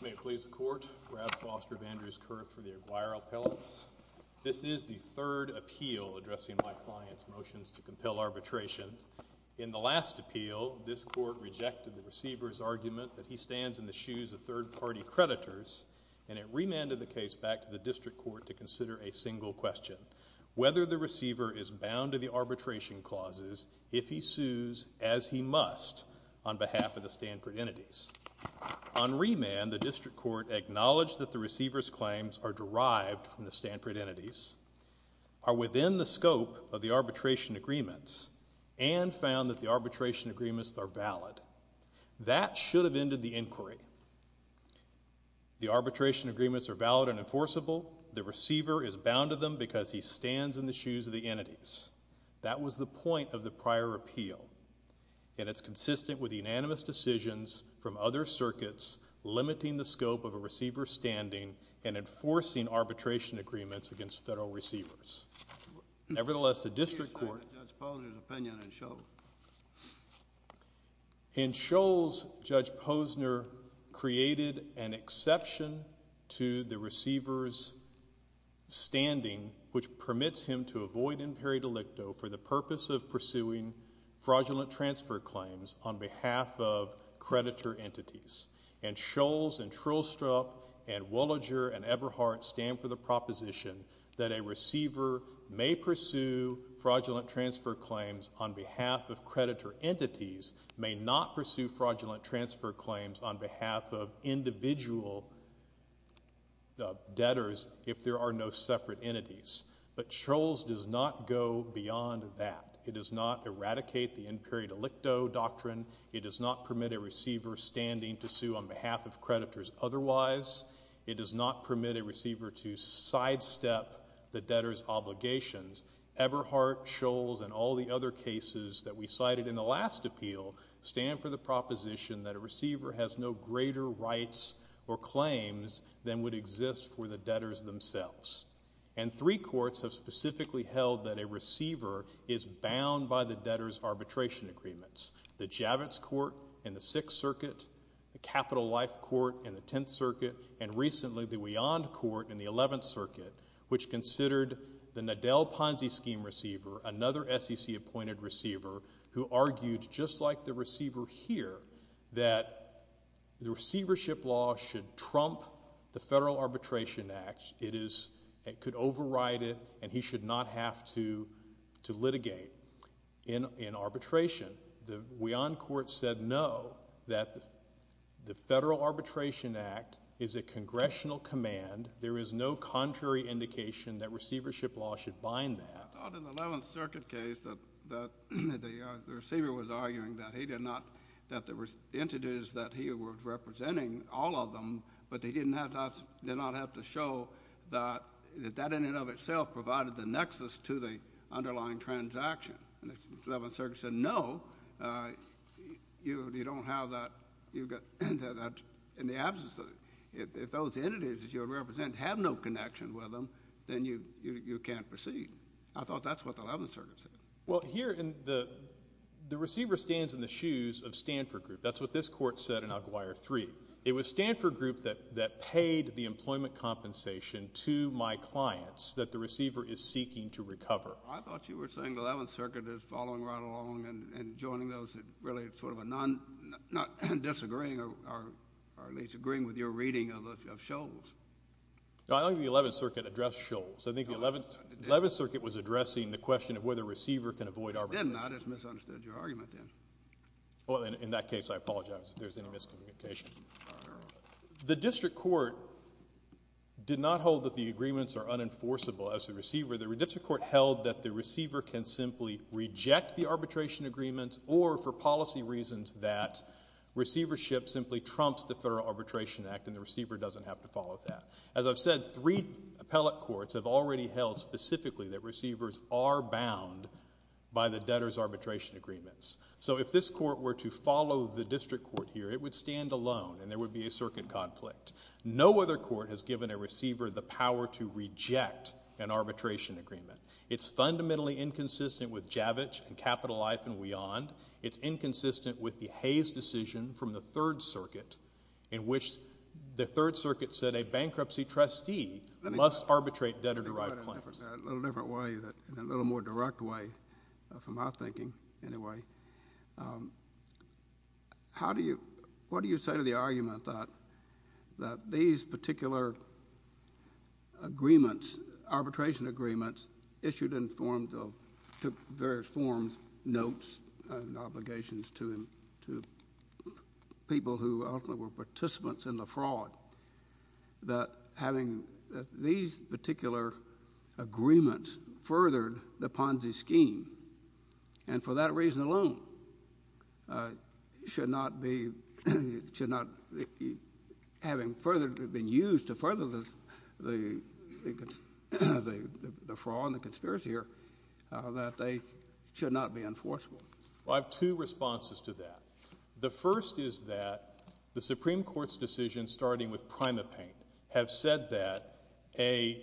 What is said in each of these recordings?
May it please the Court, Brad Foster of Andrews Kurth for the Alguire Appellants. This is the third appeal addressing my client's motions to compel arbitration. In the last appeal, this Court rejected the receiver's argument that he stands in the shoes of third-party creditors, and it remanded the case back to the District Court to consider a single question, whether the receiver is bound to the arbitration clauses if he sues as he must on behalf of the Stanford entities. On remand, the District Court acknowledged that the receiver's claims are derived from the arbitration agreements and found that the arbitration agreements are valid. That should have ended the inquiry. The arbitration agreements are valid and enforceable. The receiver is bound to them because he stands in the shoes of the entities. That was the point of the prior appeal, and it's consistent with unanimous decisions from other circuits limiting the scope of a receiver's standing and enforcing arbitration agreements against federal receivers. Nevertheless, the District Court— What do you say to Judge Posner's opinion in Shoals? In Shoals, Judge Posner created an exception to the receiver's standing, which permits him to avoid imperi delicto for the purpose of pursuing fraudulent transfer claims on behalf of creditor entities. And Shoals and Trillstrup and Wollinger and Eberhardt stand for the proposition that a receiver may pursue fraudulent transfer claims on behalf of creditor entities, may not pursue fraudulent transfer claims on behalf of individual debtors if there are no separate entities. But Shoals does not go beyond that. It does not eradicate the imperi delicto doctrine. It does not permit a receiver standing to sue on behalf of creditors otherwise. It does not permit a receiver to sidestep the debtor's obligations. Eberhardt, Shoals, and all the other cases that we cited in the last appeal stand for the proposition that a receiver has no greater rights or claims than would exist for the debtors themselves. And three courts have specifically held that a receiver is bound by the debtor's arbitration agreements. The Javits Court in the Sixth Circuit, the Capital Life Court in the Tenth Circuit, and recently the Weyand Court in the Eleventh Circuit, which considered the Nadel Ponzi Scheme receiver, another SEC-appointed receiver, who argued just like the receiver here that the receivership law should trump the Federal Arbitration Act. It is, it could override it, and he should not have to litigate in arbitration. The Weyand Court said no, that the Federal Arbitration Act is a congressional command. There is no contrary indication that receivership law should bind that. I thought in the Eleventh Circuit case that the receiver was arguing that he did not, that there were entities that he was representing, all of them, but they did not have to show that that in and of itself provided the nexus to the underlying transaction. And the Eleventh Circuit said no, you don't have that, you've got that in the absence of it. If those entities that you represent have no connection with them, then you can't proceed. I thought that's what the Eleventh Circuit said. Well here in the, the receiver stands in the shoes of Stanford Group. That's what this court said in Aguiar 3. It was Stanford Group that, that paid the employment compensation to my clients that the receiver is seeking to recover. I thought you were saying the Eleventh Circuit is following right along and, and joining those that really sort of a non, not disagreeing or, or at least agreeing with your reading of the, of Scholl's. No, I don't think the Eleventh Circuit addressed Scholl's. I think the Eleventh, Eleventh Circuit was addressing the question of whether a receiver can avoid arbitration. It did not. It's misunderstood your argument then. Well in, in that case I apologize if there's any miscommunication. The district court did not hold that the agreements are unenforceable as a receiver. The district court held that the receiver can simply reject the arbitration agreements or for policy reasons that receivership simply trumps the Federal Arbitration Act and the receiver doesn't have to follow that. As I've said, three appellate courts have already held specifically that receivers are bound by the debtor's arbitration agreements. So if this court were to follow the district court here, it would stand alone and there would be a circuit conflict. No other court has given a receiver the power to reject an arbitration agreement. It's fundamentally inconsistent with Javitsch and Capital Life and beyond. It's inconsistent with the Hayes decision from the Third Circuit in which the Third Circuit said a bankruptcy trustee must arbitrate debtor-derived claims. A little different way, a little more direct way from my thinking anyway. How do you, what do you say to the argument that, that these particular agreements, arbitration agreements issued in forms of, took various forms, notes and obligations to, to people who ultimately were participants in the fraud, that having these particular agreements furthered the Ponzi scheme and for that reason alone should not be, should not, having further been used to further the, the, the fraud and the conspiracy here, that they should not be enforceable? Well, I have two responses to that. The first is that the Supreme Court's decision starting with PrimaPaint have said that a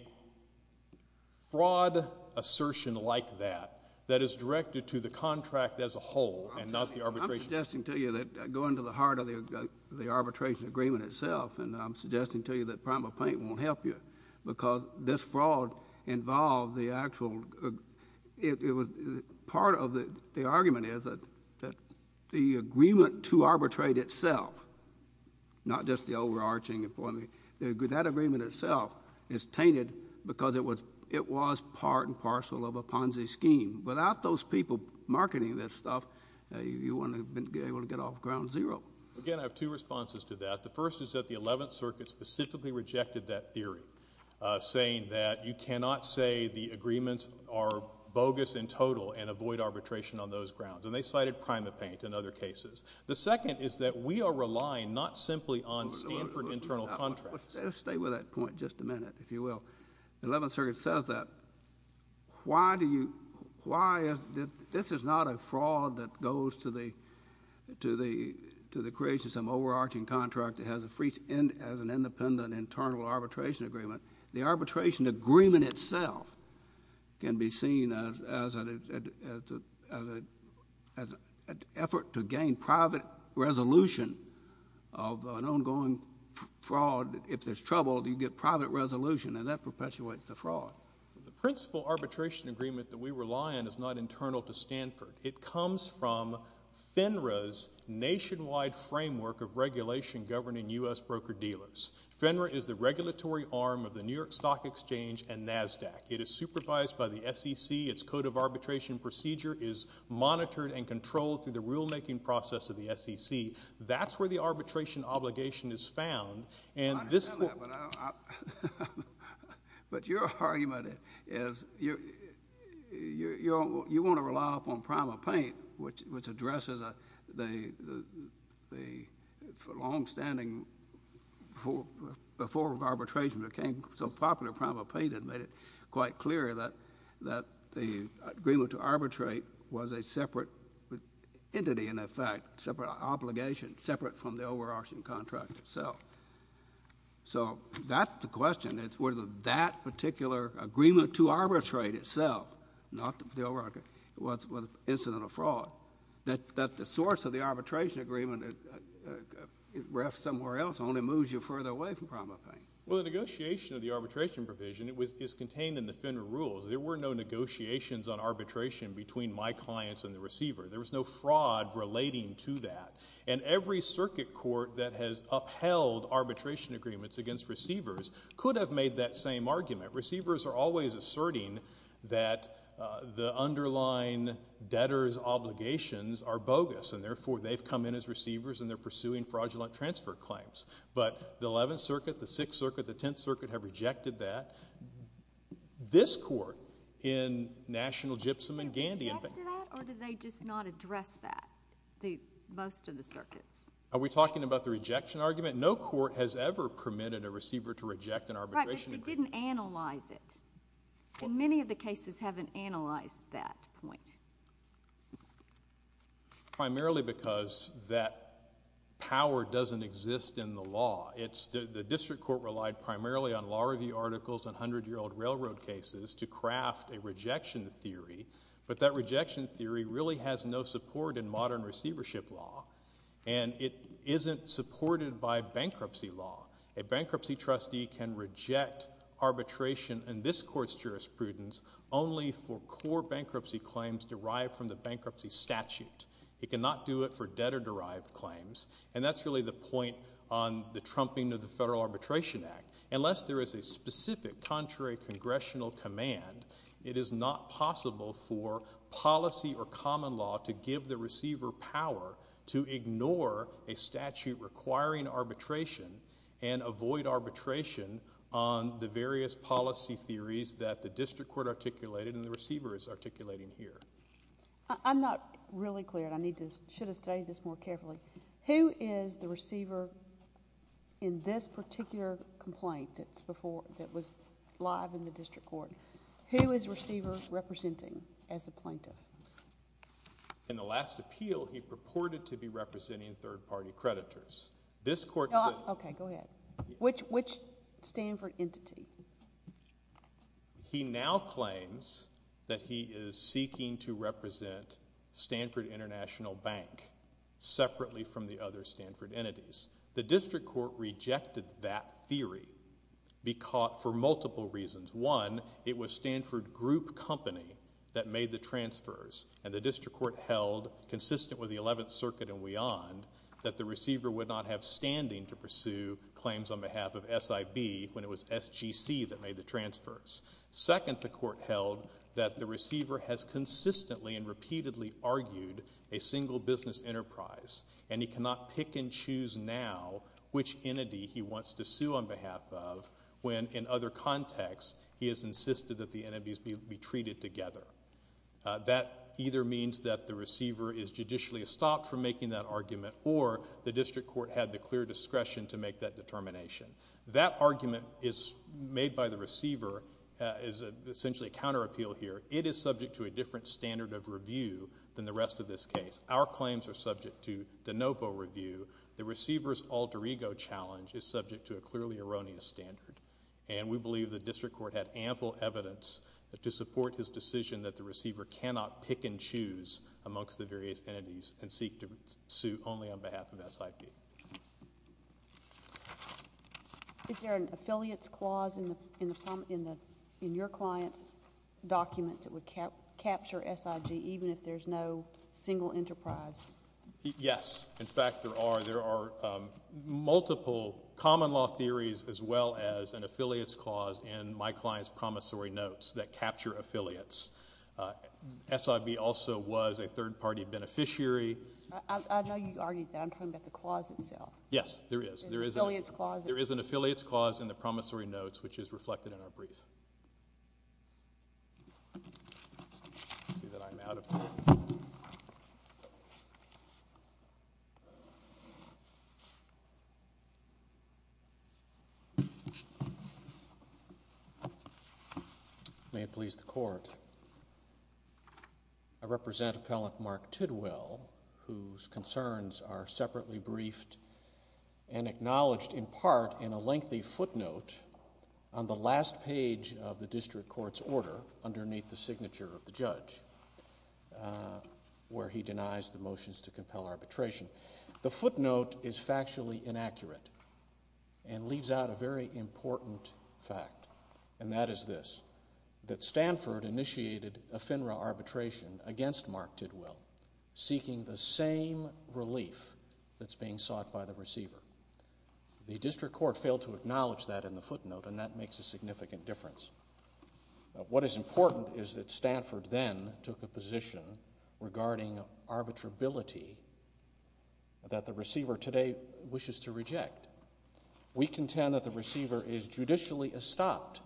fraud assertion like that, that is directed to the contract as a whole and not the arbitration agreement. I'm suggesting to you that going to the heart of the, the arbitration agreement itself and I'm suggesting to you that PrimaPaint won't help you because this fraud involved the actual, it was part of the argument is that, that the agreement to arbitrate itself, not just the overarching employment, that agreement itself is tainted because it was, it was part and parcel of a Ponzi scheme. Without those people marketing this stuff, you wouldn't have been able to get off ground zero. Again, I have two responses to that. The first is that the 11th Circuit specifically rejected that theory, saying that you cannot say the agreements are bogus in total and avoid arbitration on those grounds. And they cited PrimaPaint in other cases. The second is that we are relying not simply on Stanford internal contracts. Let's stay with that point just a minute, if you will. The 11th Circuit says that. Why do you, why is, this is not a fraud that goes to the, to the, to the creation of some overarching contract that has a free, has an independent internal arbitration agreement. The arbitration agreement itself can be seen as, as a, as a, as a, as an effort to gain private resolution of an ongoing fraud. If there's trouble, you get private resolution, and that perpetuates the fraud. The principal arbitration agreement that we rely on is not internal to Stanford. It comes from FINRA's nationwide framework of regulation governing U.S. broker-dealers. FINRA is the regulatory arm of the New York Stock Exchange and NASDAQ. It is supervised by the SEC. Its code of arbitration procedure is monitored and controlled through the rulemaking process of the SEC. That's where the arbitration obligation is found. And this court- I understand that, but I don't, I, but your argument is, you're, you're, you're, you want to rely upon PrimaPaint, which, which addresses a, the, the, the longstanding before arbitration became so popular, PrimaPaint had made it quite clear that, that the agreement to arbitrate was a separate entity, in effect, separate obligation, separate from the overarching contract itself. So that's the question. It's whether that particular agreement to arbitrate itself, not the overarching, was, was an incident of fraud, that, that the source of the arbitration agreement, uh, uh, uh, rests somewhere else, only moves you further away from PrimaPaint. Well, the negotiation of the arbitration provision, it was, is contained in the FINRA rules. There were no negotiations on arbitration between my clients and the receiver. There was no fraud relating to that. And every circuit court that has upheld arbitration agreements against receivers could have made that same argument. Receivers are always asserting that, uh, the underlying debtor's obligations are bogus, and therefore, they've come in as receivers, and they're pursuing fraudulent transfer claims. But the Eleventh Circuit, the Sixth Circuit, the Tenth Circuit have rejected that. This court in National Gypsum and Gandy, in fact... Did they reject that, or did they just not address that, the, most of the circuits? Are we talking about the rejection argument? No court has ever permitted a receiver to reject an arbitration agreement. Right, but they didn't analyze it. And many of the cases haven't analyzed that point. Primarily because that power doesn't exist in the law. It's the, the district court relied primarily on law review articles and 100-year-old railroad cases to craft a rejection theory, but that rejection theory really has no support in modern receivership law. And it isn't supported by bankruptcy law. A bankruptcy trustee can reject arbitration in this court's jurisprudence only for core bankruptcy claims derived from the bankruptcy statute. It cannot do it for debtor-derived claims. And that's really the point on the trumping of the Federal Arbitration Act. Unless there is a specific contrary congressional command, it is not possible for policy or jurisdiction to ignore a statute requiring arbitration and avoid arbitration on the various policy theories that the district court articulated and the receiver is articulating here. I'm not really clear, and I need to, should have studied this more carefully. Who is the receiver in this particular complaint that's before, that was live in the district court? Who is the receiver representing as a plaintiff? In the last appeal, he purported to be representing third-party creditors. This court said— Okay, go ahead. Which, which Stanford entity? He now claims that he is seeking to represent Stanford International Bank separately from the other Stanford entities. The district court rejected that theory because, for multiple reasons. One, it was Stanford Group Company that made the transfers, and the district court held, consistent with the 11th Circuit and beyond, that the receiver would not have standing to pursue claims on behalf of SIB when it was SGC that made the transfers. Second, the court held that the receiver has consistently and repeatedly argued a single business enterprise, and he cannot pick and choose now which entity he wants to sue on In another context, he has insisted that the entities be treated together. That either means that the receiver is judicially stopped from making that argument, or the district court had the clear discretion to make that determination. That argument is made by the receiver, is essentially a counter-appeal here. It is subject to a different standard of review than the rest of this case. Our claims are subject to de novo review. The receiver's alter ego challenge is subject to a clearly erroneous standard. And we believe the district court had ample evidence to support his decision that the receiver cannot pick and choose amongst the various entities and seek to sue only on behalf of SIB. Is there an affiliates clause in your client's documents that would capture SIG, even if there's no single enterprise? Yes. In fact, there are. There are multiple common law theories as well as an affiliates clause in my client's promissory notes that capture affiliates. SIB also was a third-party beneficiary. I know you argued that. I'm talking about the clause itself. Yes, there is. There is an affiliates clause in the promissory notes, which is reflected in our brief. I see that I'm out of time. May it please the Court. I represent Appellant Mark Tidwell, whose concerns are separately briefed and acknowledged in part in a lengthy footnote on the last page of the district court's order underneath the signature of the judge, where he denies the motions to compel arbitration. The footnote is factually inaccurate and leaves out a very important fact, and that is this, that Stanford initiated a FINRA arbitration against Mark Tidwell, seeking the same relief that's being sought by the receiver. The district court failed to acknowledge that in the footnote, and that makes a significant difference. What is important is that Stanford then took a position regarding arbitrability that the receiver today wishes to reject. We contend that the receiver is judicially stopped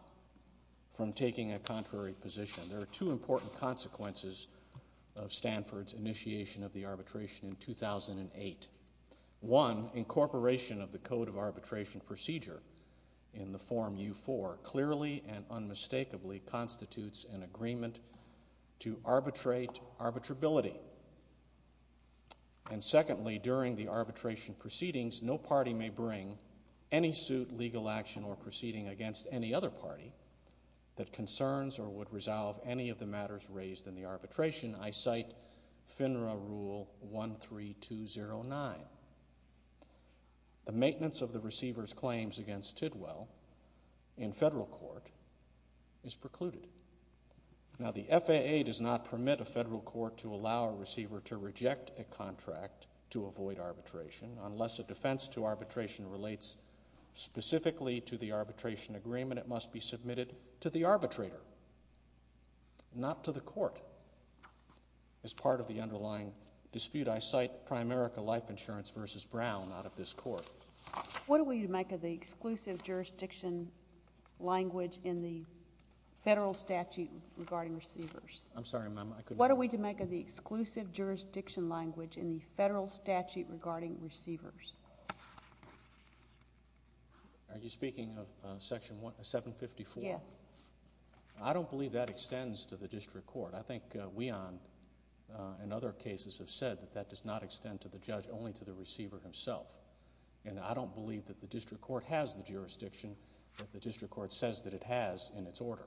from taking a contrary position. There are two important consequences of Stanford's initiation of the arbitration in 2008. One, incorporation of the Code of Arbitration Procedure in the Form U-4 clearly and unmistakably constitutes an agreement to arbitrate arbitrability. And secondly, during the arbitration proceedings, no party may bring any suit, legal action, or proceeding against any other party that concerns or would resolve any of the matters raised in the arbitration. I cite FINRA Rule 13209. The maintenance of the receiver's claims against Tidwell in federal court is precluded. Now, the FAA does not permit a federal court to allow a receiver to reject a contract to avoid arbitration unless a defense to arbitration relates specifically to the arbitration agreement. It must be submitted to the arbitrator, not to the court. As part of the underlying dispute, I cite Primerica Life Insurance v. Brown out of this court. What are we to make of the exclusive jurisdiction language in the federal statute regarding receivers? I'm sorry, ma'am, I couldn't hear you. What are we to make of the exclusive jurisdiction language in the federal statute regarding receivers? Are you speaking of Section 754? Yes. I don't believe that extends to the district court. I think Weehan and other cases have said that that does not extend to the judge, only to the receiver himself. And I don't believe that the district court has the jurisdiction that the district court says that it has in its order.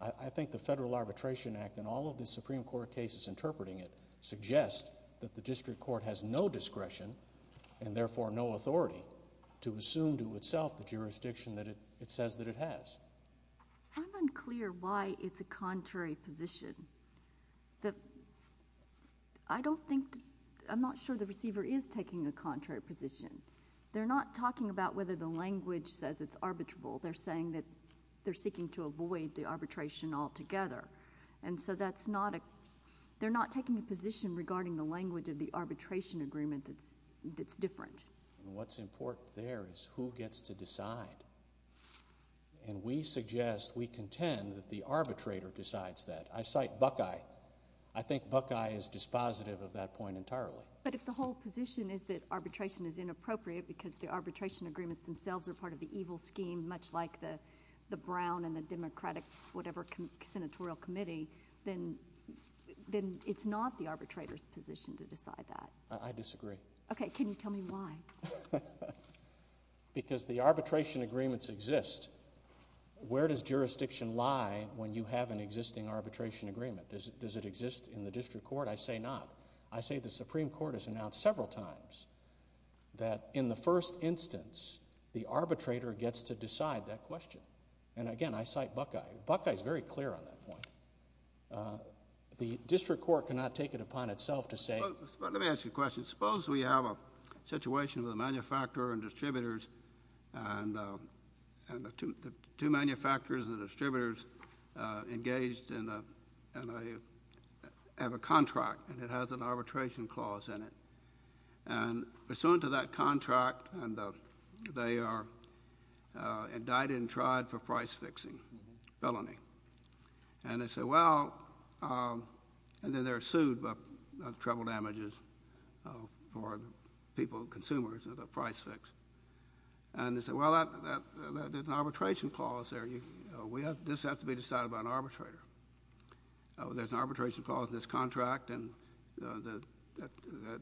I think the Federal Arbitration Act and all of the Supreme Court cases interpreting it suggest that the district court has no discretion and therefore no authority to assume to itself the jurisdiction that it says that it has. I'm unclear why it's a contrary position. I don't think—I'm not sure the receiver is taking a contrary position. They're not talking about whether the language says it's arbitrable. They're saying that they're seeking to avoid the arbitration altogether. And so that's not a—they're not taking a position regarding the language of the arbitration agreement that's different. What's important there is who gets to decide. And we suggest, we contend, that the arbitrator decides that. I cite Buckeye. I think Buckeye is dispositive of that point entirely. But if the whole position is that arbitration is inappropriate because the arbitration agreements themselves are part of the evil scheme, much like the Brown and the Democratic, whatever, senatorial committee, then it's not the arbitrator's position to decide that. I disagree. OK. Can you tell me why? Because the arbitration agreements exist. Where does jurisdiction lie when you have an existing arbitration agreement? Does it exist in the district court? I say not. I say the Supreme Court has announced several times that in the first instance, the arbitrator gets to decide that question. And again, I cite Buckeye. Buckeye is very clear on that point. Let me ask you a question. Suppose we have a situation with a manufacturer and distributors, and the two manufacturers and the distributors engaged in a contract, and it has an arbitration clause in it. And pursuant to that contract, they are indicted and tried for price fixing, felony. And they say, well, and then they're sued about the treble damages for people, consumers, and the price fix. And they say, well, there's an arbitration clause there. This has to be decided by an arbitrator. There's an arbitration clause in this contract, and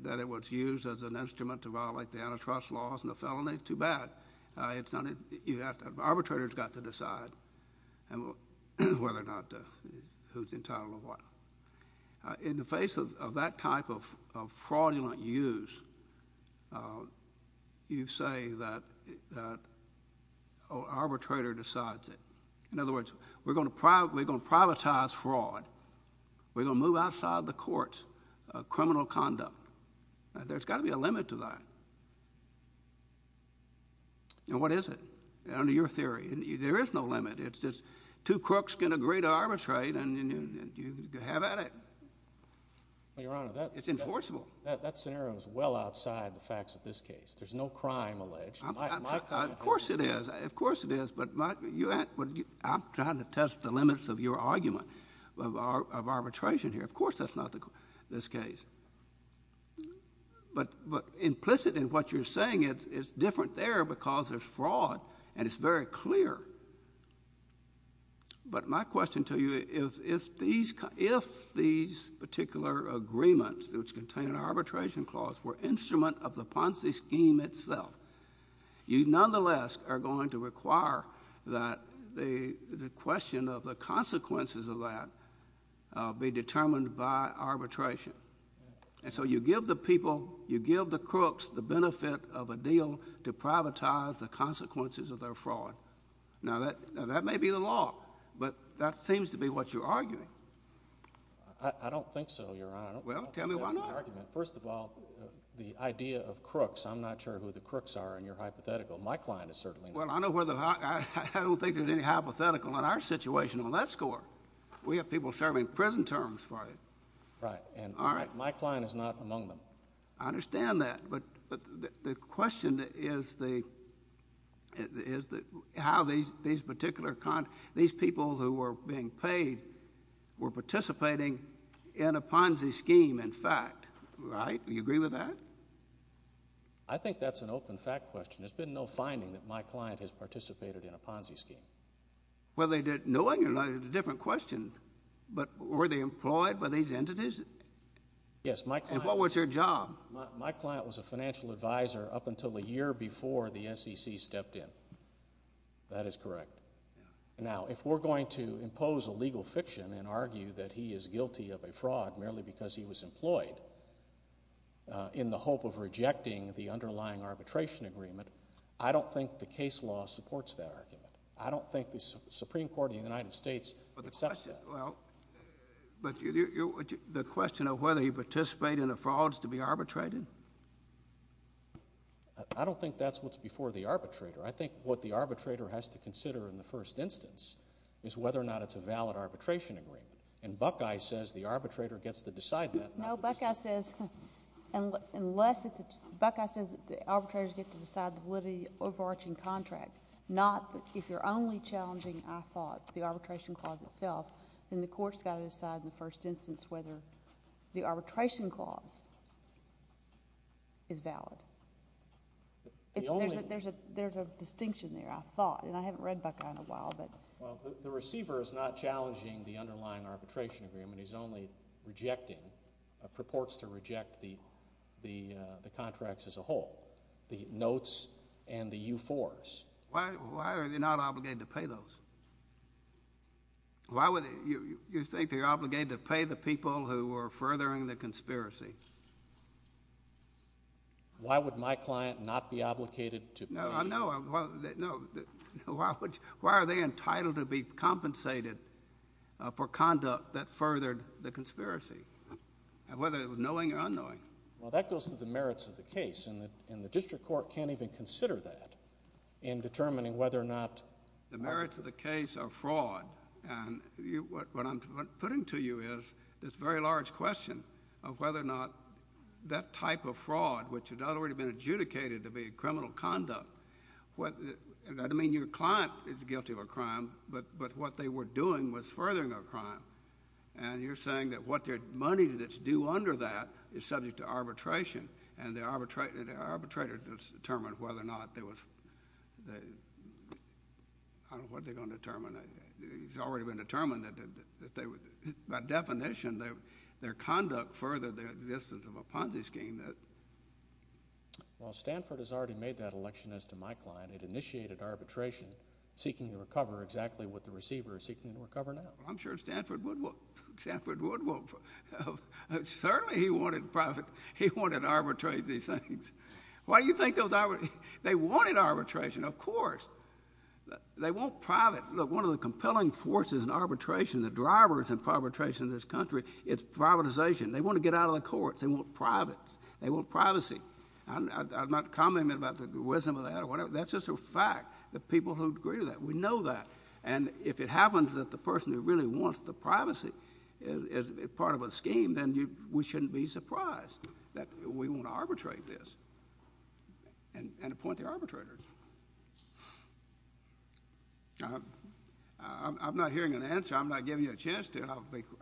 that it was used as an instrument to violate the antitrust laws, and the felony is too bad. Arbitrators got to decide. And whether or not who's entitled or what. In the face of that type of fraudulent use, you say that an arbitrator decides it. In other words, we're going to privatize fraud. We're going to move outside the courts criminal conduct. There's got to be a limit to that. And what is it? Under your theory. There is no limit. It's just two crooks can agree to arbitrate, and you have at it. It's enforceable. That scenario is well outside the facts of this case. There's no crime alleged. Of course it is. Of course it is. But I'm trying to test the limits of your argument of arbitration here. Of course that's not this case. But implicit in what you're saying, it's different there because there's fraud, and it's very clear. But my question to you, if these particular agreements, which contain an arbitration clause, were instrument of the Ponzi scheme itself, you nonetheless are going to require that the question of the consequences of that be determined by arbitration. And so you give the people, you give the crooks the benefit of a deal to privatize the consequences of their fraud. Now, that may be the law, but that seems to be what you're arguing. I don't think so, Your Honor. Well, tell me why not. First of all, the idea of crooks, I'm not sure who the crooks are in your hypothetical. My client is certainly not. Well, I don't think there's any hypothetical in our situation on that score. We have people serving prison terms for it. Right. My client is not among them. I understand that. But the question is how these particular people who were being paid were participating in a Ponzi scheme, in fact. Right? Do you agree with that? I think that's an open fact question. There's been no finding that my client has participated in a Ponzi scheme. Well, knowing or not, it's a different question. But were they employed by these entities? Yes. And what was their job? My client was a financial advisor up until a year before the SEC stepped in. That is correct. Now, if we're going to impose a legal fiction and argue that he is guilty of a fraud merely because he was employed in the hope of rejecting the underlying arbitration agreement, I don't think the case law supports that argument. I don't think the Supreme Court of the United States accepts that. Well, but the question of whether he participated in a fraud is to be arbitrated? I don't think that's what's before the arbitrator. I think what the arbitrator has to consider in the first instance is whether or not it's a valid arbitration agreement. And Buckeye says the arbitrator gets to decide that. No, Buckeye says that the arbitrators get to decide the validity of the overarching contract, not if you're only challenging, I thought, the arbitration clause itself, then the court's got to decide in the first instance whether the arbitration clause is valid. There's a distinction there, I thought. And I haven't read Buckeye in a while. Well, the receiver is not challenging the underlying arbitration agreement. He's only rejecting, purports to reject, the contracts as a whole, the notes and the force. Why are they not obligated to pay those? Why would you think they're obligated to pay the people who were furthering the conspiracy? Why would my client not be obligated to pay? No, no, why are they entitled to be compensated for conduct that furthered the conspiracy, whether it was knowing or unknowing? Well, that goes to the merits of the case, and the district court can't even consider that in determining whether or not— The merits of the case are fraud, and what I'm putting to you is this very large question of whether or not that type of fraud, which had already been adjudicated to be criminal conduct—that doesn't mean your client is guilty of a crime, but what they were doing was furthering a crime. And you're saying that what their money that's due under that is subject to arbitration, and the arbitrator just determined whether or not there was—I don't know what they're going to determine. It's already been determined that by definition, their conduct furthered the existence of a Ponzi scheme. Well, Stanford has already made that election as to my client. It initiated arbitration, seeking to recover exactly what the receiver is seeking to recover now. I'm sure Stanford would want—Certainly he wanted private—he wanted to arbitrate these things. Why do you think those—they wanted arbitration, of course. They want private—look, one of the compelling forces in arbitration, the drivers in arbitration in this country, is privatization. They want to get out of the courts. They want privates. They want privacy. I'm not commenting about the wisdom of that or whatever. That's just a fact. The people who agree to that. We know that. And if it happens that the person who really wants the privacy is part of a scheme, then we shouldn't be surprised that we want to arbitrate this and appoint the arbitrators. I'm not hearing an answer. I'm not giving you a chance to.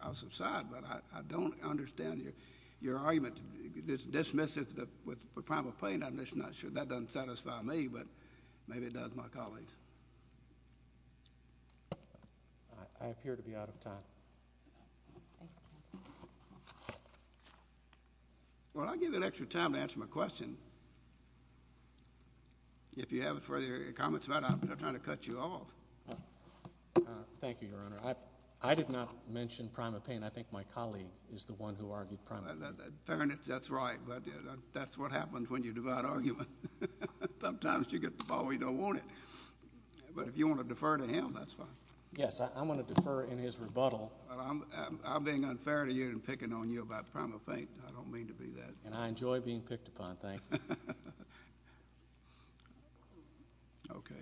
I'll subside. But I don't understand your argument. Dismiss it with a primal plaintiff. I'm just not sure. That doesn't satisfy me, but maybe it does my colleagues. I appear to be out of time. Well, I'll give you an extra time to answer my question. If you have further comments about it, I'm not trying to cut you off. Thank you, Your Honor. I did not mention primal plaintiff. I think my colleague is the one who argued primal plaintiff. Fairness, that's right. But that's what happens when you divide argument. Sometimes you get the ball where you don't want it. But if you want to defer to him, that's fine. Yes, I'm going to defer in his rebuttal. I'm being unfair to you and picking on you about primal plaintiff. I don't mean to be that. And I enjoy being picked upon. Okay.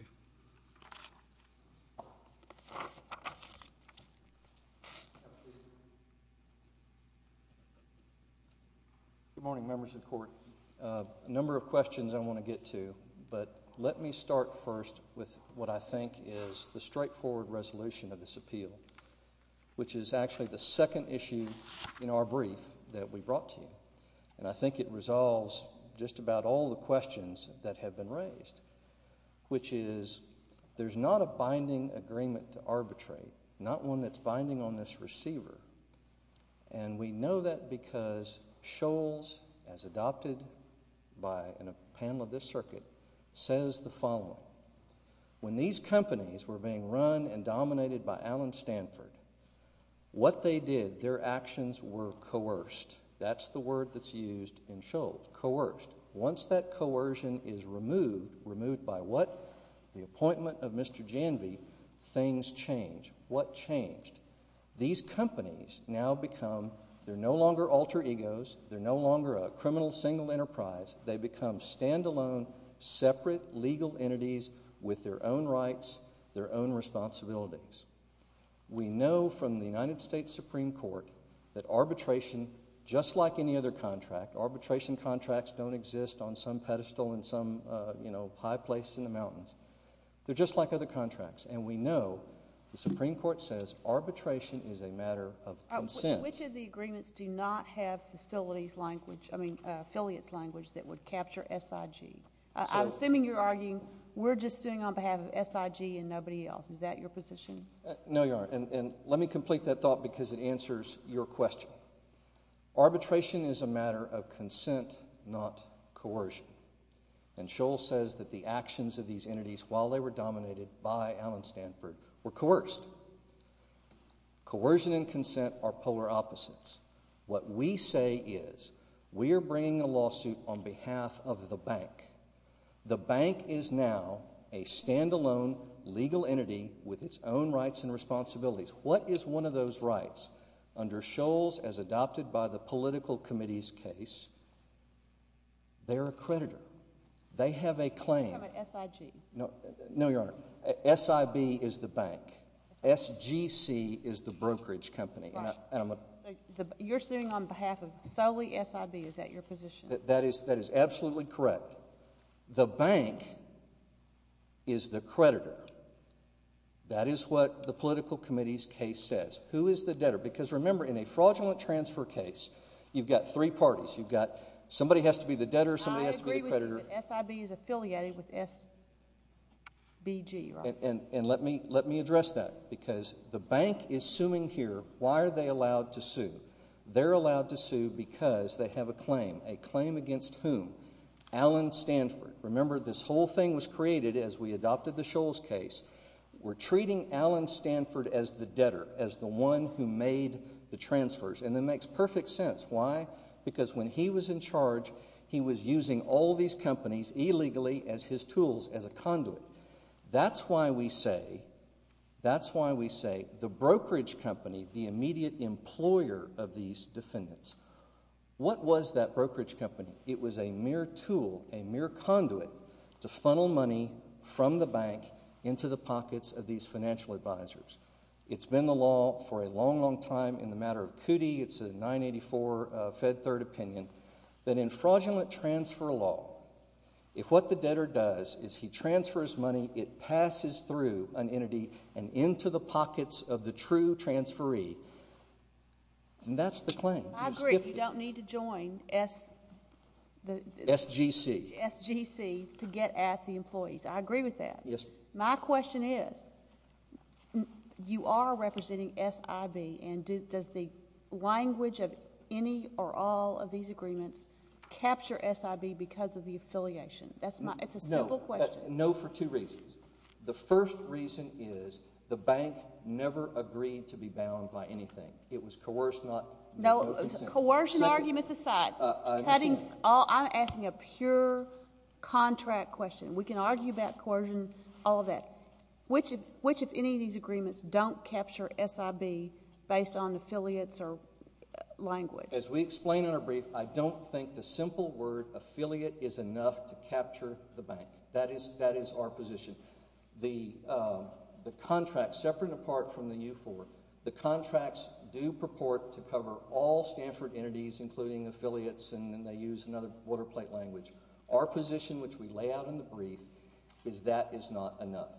Good morning, members of the Court. A number of questions I want to get to. But let me start first with what I think is the straightforward resolution of this appeal, which is actually the second issue in our brief that we brought to you. And I think it resolves just about all the questions that have been raised, which is there's not a binding agreement to arbitrate, not one that's binding on this receiver. And we know that because Scholz, as adopted by a panel of this circuit, says the following. When these companies were being run and dominated by Alan Stanford, what they did, their actions were coerced. That's the word that's used in Scholz, coerced. Once that coercion is removed, removed by what? The appointment of Mr. Janvey, things change. What changed? These companies now become, they're no longer alter egos. They're no longer a criminal single enterprise. They become standalone, separate legal entities with their own rights, their own responsibilities. We know from the United States Supreme Court that arbitration, just like any other contract, arbitration contracts don't exist on some pedestal in some, you know, high place in the mountains. They're just like other contracts. And we know the Supreme Court says arbitration is a matter of consent. Which of the agreements do not have facilities language, I mean affiliates language that would capture SIG? I'm assuming you're arguing we're just sitting on behalf of SIG and nobody else. Is that your position? No, Your Honor. And let me complete that thought because it answers your question. Arbitration is a matter of consent, not coercion. And Shoals says that the actions of these entities, while they were dominated by Alan Stanford, were coerced. Coercion and consent are polar opposites. What we say is we are bringing a lawsuit on behalf of the bank. The bank is now a standalone legal entity with its own rights and responsibilities. What is one of those rights? Under Shoals, as adopted by the political committee's case, they're a creditor. They have a claim. They have an SIG. No, no, Your Honor. SIB is the bank. SGC is the brokerage company. Right. And I'm a... So you're sitting on behalf of solely SIB. Is that your position? That is, that is absolutely correct. The bank is the creditor. That is what the political committee's case says. Who is the debtor? Remember, in a fraudulent transfer case, you've got three parties. Somebody has to be the debtor. Somebody has to be the creditor. I agree with you that SIB is affiliated with SBG, Your Honor. And let me address that. Because the bank is suing here. Why are they allowed to sue? They're allowed to sue because they have a claim. A claim against whom? Alan Stanford. Remember, this whole thing was created as we adopted the Shoals case. We're treating Alan Stanford as the debtor, as the one who made the transfers. And that makes perfect sense. Why? Because when he was in charge, he was using all these companies illegally as his tools, as a conduit. That's why we say, that's why we say the brokerage company, the immediate employer of these defendants, what was that brokerage company? It was a mere tool, a mere conduit to funnel money from the bank into the pockets of these financial advisors. It's been the law for a long, long time in the matter of CUDI, it's a 984 Fed Third opinion, that in fraudulent transfer law, if what the debtor does is he transfers money, it passes through an entity and into the pockets of the true transferee. And that's the claim. I agree. You don't need to join SGC to get at the employees. I agree with that. My question is, you are representing SIB, and does the language of any or all of these agreements capture SIB because of the affiliation? That's my, it's a simple question. No, for two reasons. The first reason is the bank never agreed to be bound by anything. It was coerced. No, coercion arguments aside, I'm asking a pure contract question. We can argue about coercion, all of that. Which, if any, of these agreements don't capture SIB based on affiliates or language? As we explain in our brief, I don't think the simple word affiliate is enough to capture the bank. That is our position. The contract, separate and apart from the U4, the contracts do purport to cover all Stanford entities, including affiliates, and then they use another water plate language. Our position, which we lay out in the brief, is that is not enough.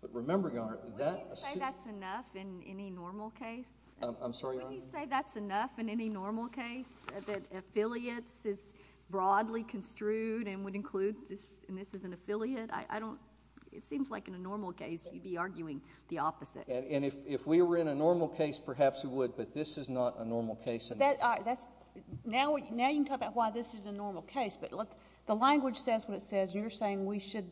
But remember, Your Honor, that— Wouldn't you say that's enough in any normal case? I'm sorry, Your Honor? Wouldn't you say that's enough in any normal case, that affiliates is broadly construed and would include this, and this is an affiliate? I don't—it seems like in a normal case, you'd be arguing the opposite. And if we were in a normal case, perhaps we would, but this is not a normal case. But that's—now you can talk about why this is a normal case, but the language says what it says, and you're saying we should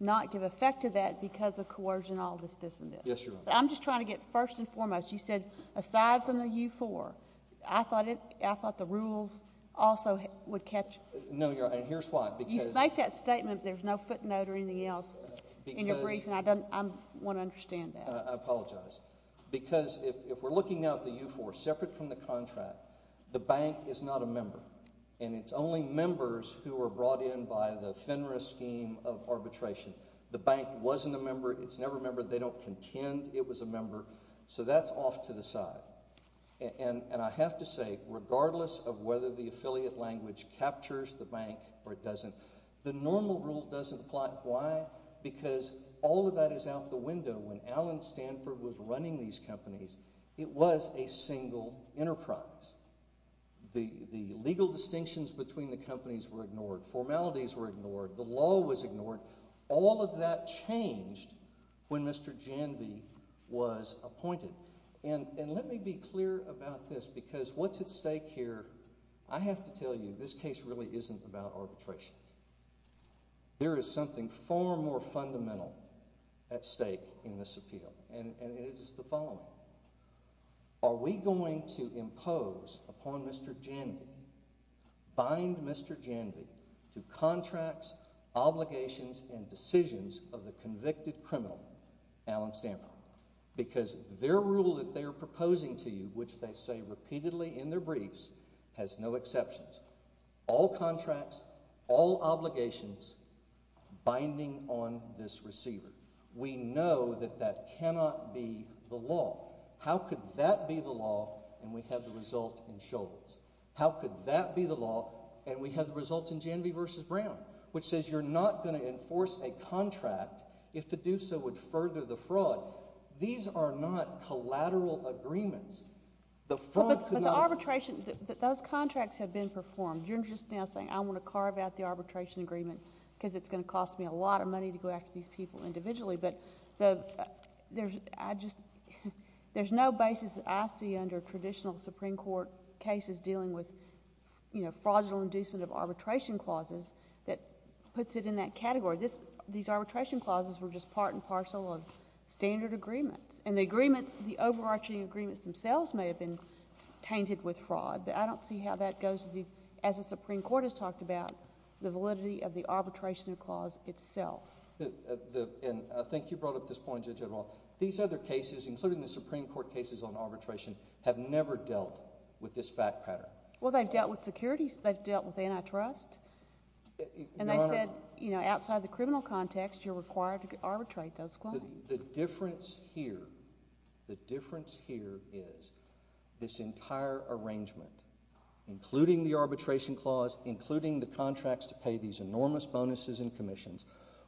not give effect to that because of coercion, all this, this, and this. Yes, Your Honor. I'm just trying to get, first and foremost, you said, aside from the U4, I thought the rules also would catch— No, Your Honor, and here's why, because— You make that statement, there's no footnote or anything else in your briefing. I want to understand that. I apologize. Because if we're looking now at the U4, separate from the contract, the bank is not a member, and it's only members who are brought in by the FINRA scheme of arbitration. The bank wasn't a member. It's never a member. They don't contend it was a member. So that's off to the side. And I have to say, regardless of whether the affiliate language captures the bank or it doesn't, the normal rule doesn't apply. Why? Because all of that is out the window. When Allen Stanford was running these companies, it was a single enterprise. The legal distinctions between the companies were ignored. Formalities were ignored. The law was ignored. All of that changed when Mr. Janvey was appointed. And let me be clear about this, because what's at stake here, I have to tell you, this case really isn't about arbitration. There is something far more fundamental at stake in this appeal, and it is the following. Are we going to impose upon Mr. Janvey, bind Mr. Janvey to contracts, obligations, and decisions of the convicted criminal, Allen Stanford? Because their rule that they are proposing to you, which they say repeatedly in their briefs, has no exceptions. All contracts, all obligations, binding on this receiver. We know that that cannot be the law. How could that be the law, and we have the result in Scholz? How could that be the law, and we have the result in Janvey versus Brown, which says you're not going to enforce a contract if the do-so would further the fraud? These are not collateral agreements. The fraud could not— Those contracts have been performed. You're just now saying I want to carve out the arbitration agreement because it's going to cost me a lot of money to go after these people individually, but there's no basis that I see under traditional Supreme Court cases dealing with, you know, fraudulent inducement of arbitration clauses that puts it in that category. These arbitration clauses were just part and parcel of standard agreements. And the agreements, the overarching agreements themselves may have been tainted with fraud, but I don't see how that goes to the, as the Supreme Court has talked about, the validity of the arbitration clause itself. And I think you brought up this point, Judge O'Rourke. These other cases, including the Supreme Court cases on arbitration, have never dealt with this fact pattern. Well, they've dealt with securities. They've dealt with antitrust. Your Honor— And they've said, you know, outside the criminal context, you're required to arbitrate those claims. The difference here, the difference here is this entire arrangement, including the arbitration clause, including the contracts to pay these enormous bonuses and commissions,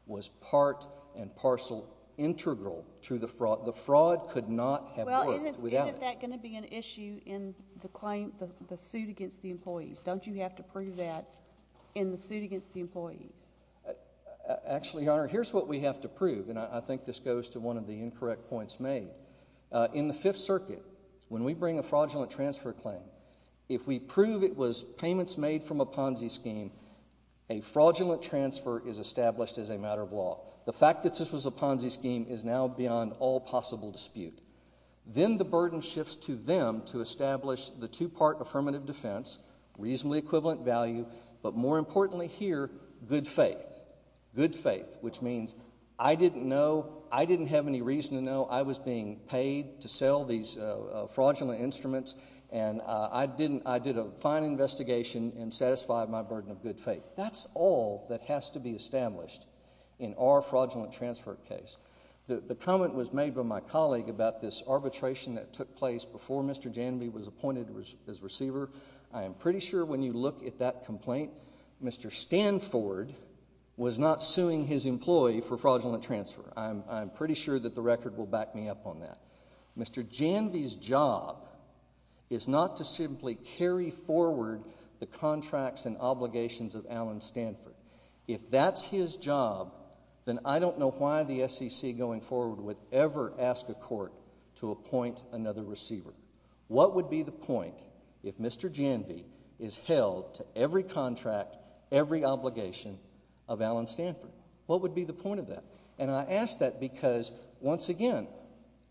was part and parcel integral to the fraud. The fraud could not have worked without it. Well, isn't that going to be an issue in the claim, the suit against the employees? Don't you have to prove that in the suit against the employees? Actually, Your Honor, here's what we have to prove. I think this goes to one of the incorrect points made. In the Fifth Circuit, when we bring a fraudulent transfer claim, if we prove it was payments made from a Ponzi scheme, a fraudulent transfer is established as a matter of law. The fact that this was a Ponzi scheme is now beyond all possible dispute. Then the burden shifts to them to establish the two-part affirmative defense, reasonably equivalent value, but more importantly here, good faith. Good faith, which means, I didn't know, I didn't have any reason to know I was being paid to sell these fraudulent instruments, and I did a fine investigation and satisfied my burden of good faith. That's all that has to be established in our fraudulent transfer case. The comment was made by my colleague about this arbitration that took place before Mr. Janvey was appointed as receiver. I am pretty sure when you look at that complaint, Mr. Stanford was not suing his employee for fraudulent transfer. I'm pretty sure that the record will back me up on that. Mr. Janvey's job is not to simply carry forward the contracts and obligations of Alan Stanford. If that's his job, then I don't know why the SEC going forward would ever ask a court to appoint another receiver. What would be the point if Mr. Janvey is held to every contract, every obligation of Alan Stanford? What would be the point of that? And I ask that because, once again,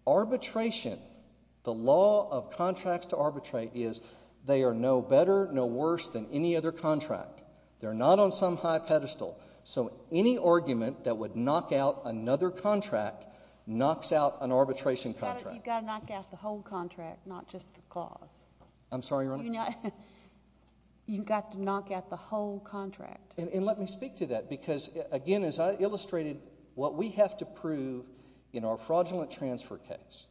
arbitration, the law of contracts to arbitrate is they are no better, no worse than any other contract. They're not on some high pedestal. So any argument that would knock out another contract knocks out an arbitration contract. You've got to knock out the whole contract, not just the clause. I'm sorry, Your Honor? You've got to knock out the whole contract. And let me speak to that because, again, as I illustrated what we have to prove in our fraudulent transfer case,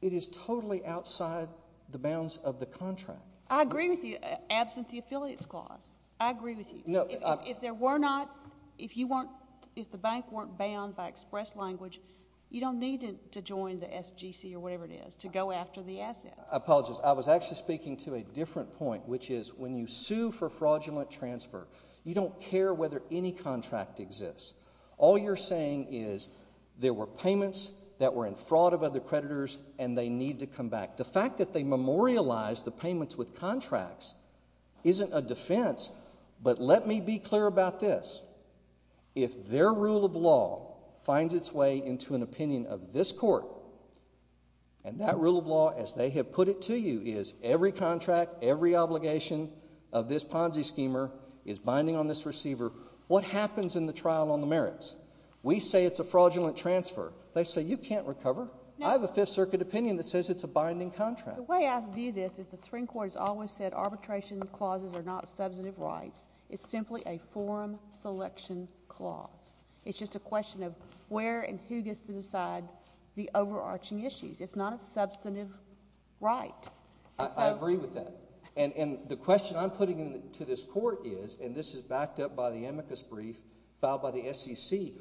it is totally outside the bounds of the contract. I agree with you, absent the affiliates clause. I agree with you. No. If there were not, if you weren't, if the bank weren't bound by express language, you don't need to join the SGC or whatever it is to go after the assets. I apologize. I was actually speaking to a different point, which is when you sue for fraudulent transfer, you don't care whether any contract exists. All you're saying is there were payments that were in fraud of other creditors and they need to come back. The fact that they memorialized the payments with contracts isn't a defense. But let me be clear about this. If their rule of law finds its way into an opinion of this court, and that rule of law, as they have put it to you, is every contract, every obligation of this Ponzi schemer is binding on this receiver, what happens in the trial on the merits? We say it's a fraudulent transfer. They say you can't recover. I have a Fifth Circuit opinion that says it's a binding contract. The way I view this is the Supreme Court has always said arbitration clauses are not substantive rights. It's simply a forum selection clause. It's just a question of where and who gets to decide the overarching issues. It's not a substantive right. I agree with that. And the question I'm putting to this court is, and this is backed up by the amicus brief filed by the SCC,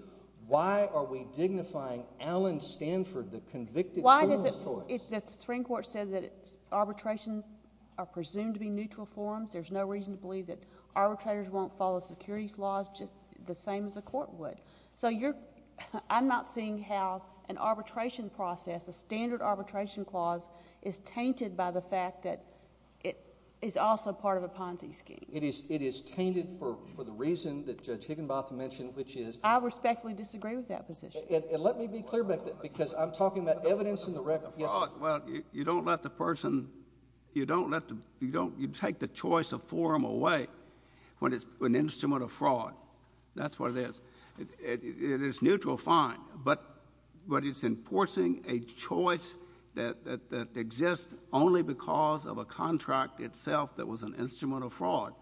why are we dignifying Alan Stanford, the convicted— Why does it, if the Supreme Court said that arbitration are presumed to be neutral forums, there's no reason to believe that arbitrators won't follow securities laws just the same as a court would? So you're—I'm not seeing how an arbitration process, a standard arbitration clause, is tainted by the fact that it is also part of a Ponzi scheme. It is tainted for the reason that Judge Higginbotham mentioned, which is— I respectfully disagree with that position. Let me be clear, because I'm talking about evidence in the record. Well, you don't let the person—you don't let the—you don't—you take the choice of forum away when it's an instrument of fraud. That's what it is. It is neutral, fine. But it's enforcing a choice that exists only because of a contract itself that was an instrument of fraud.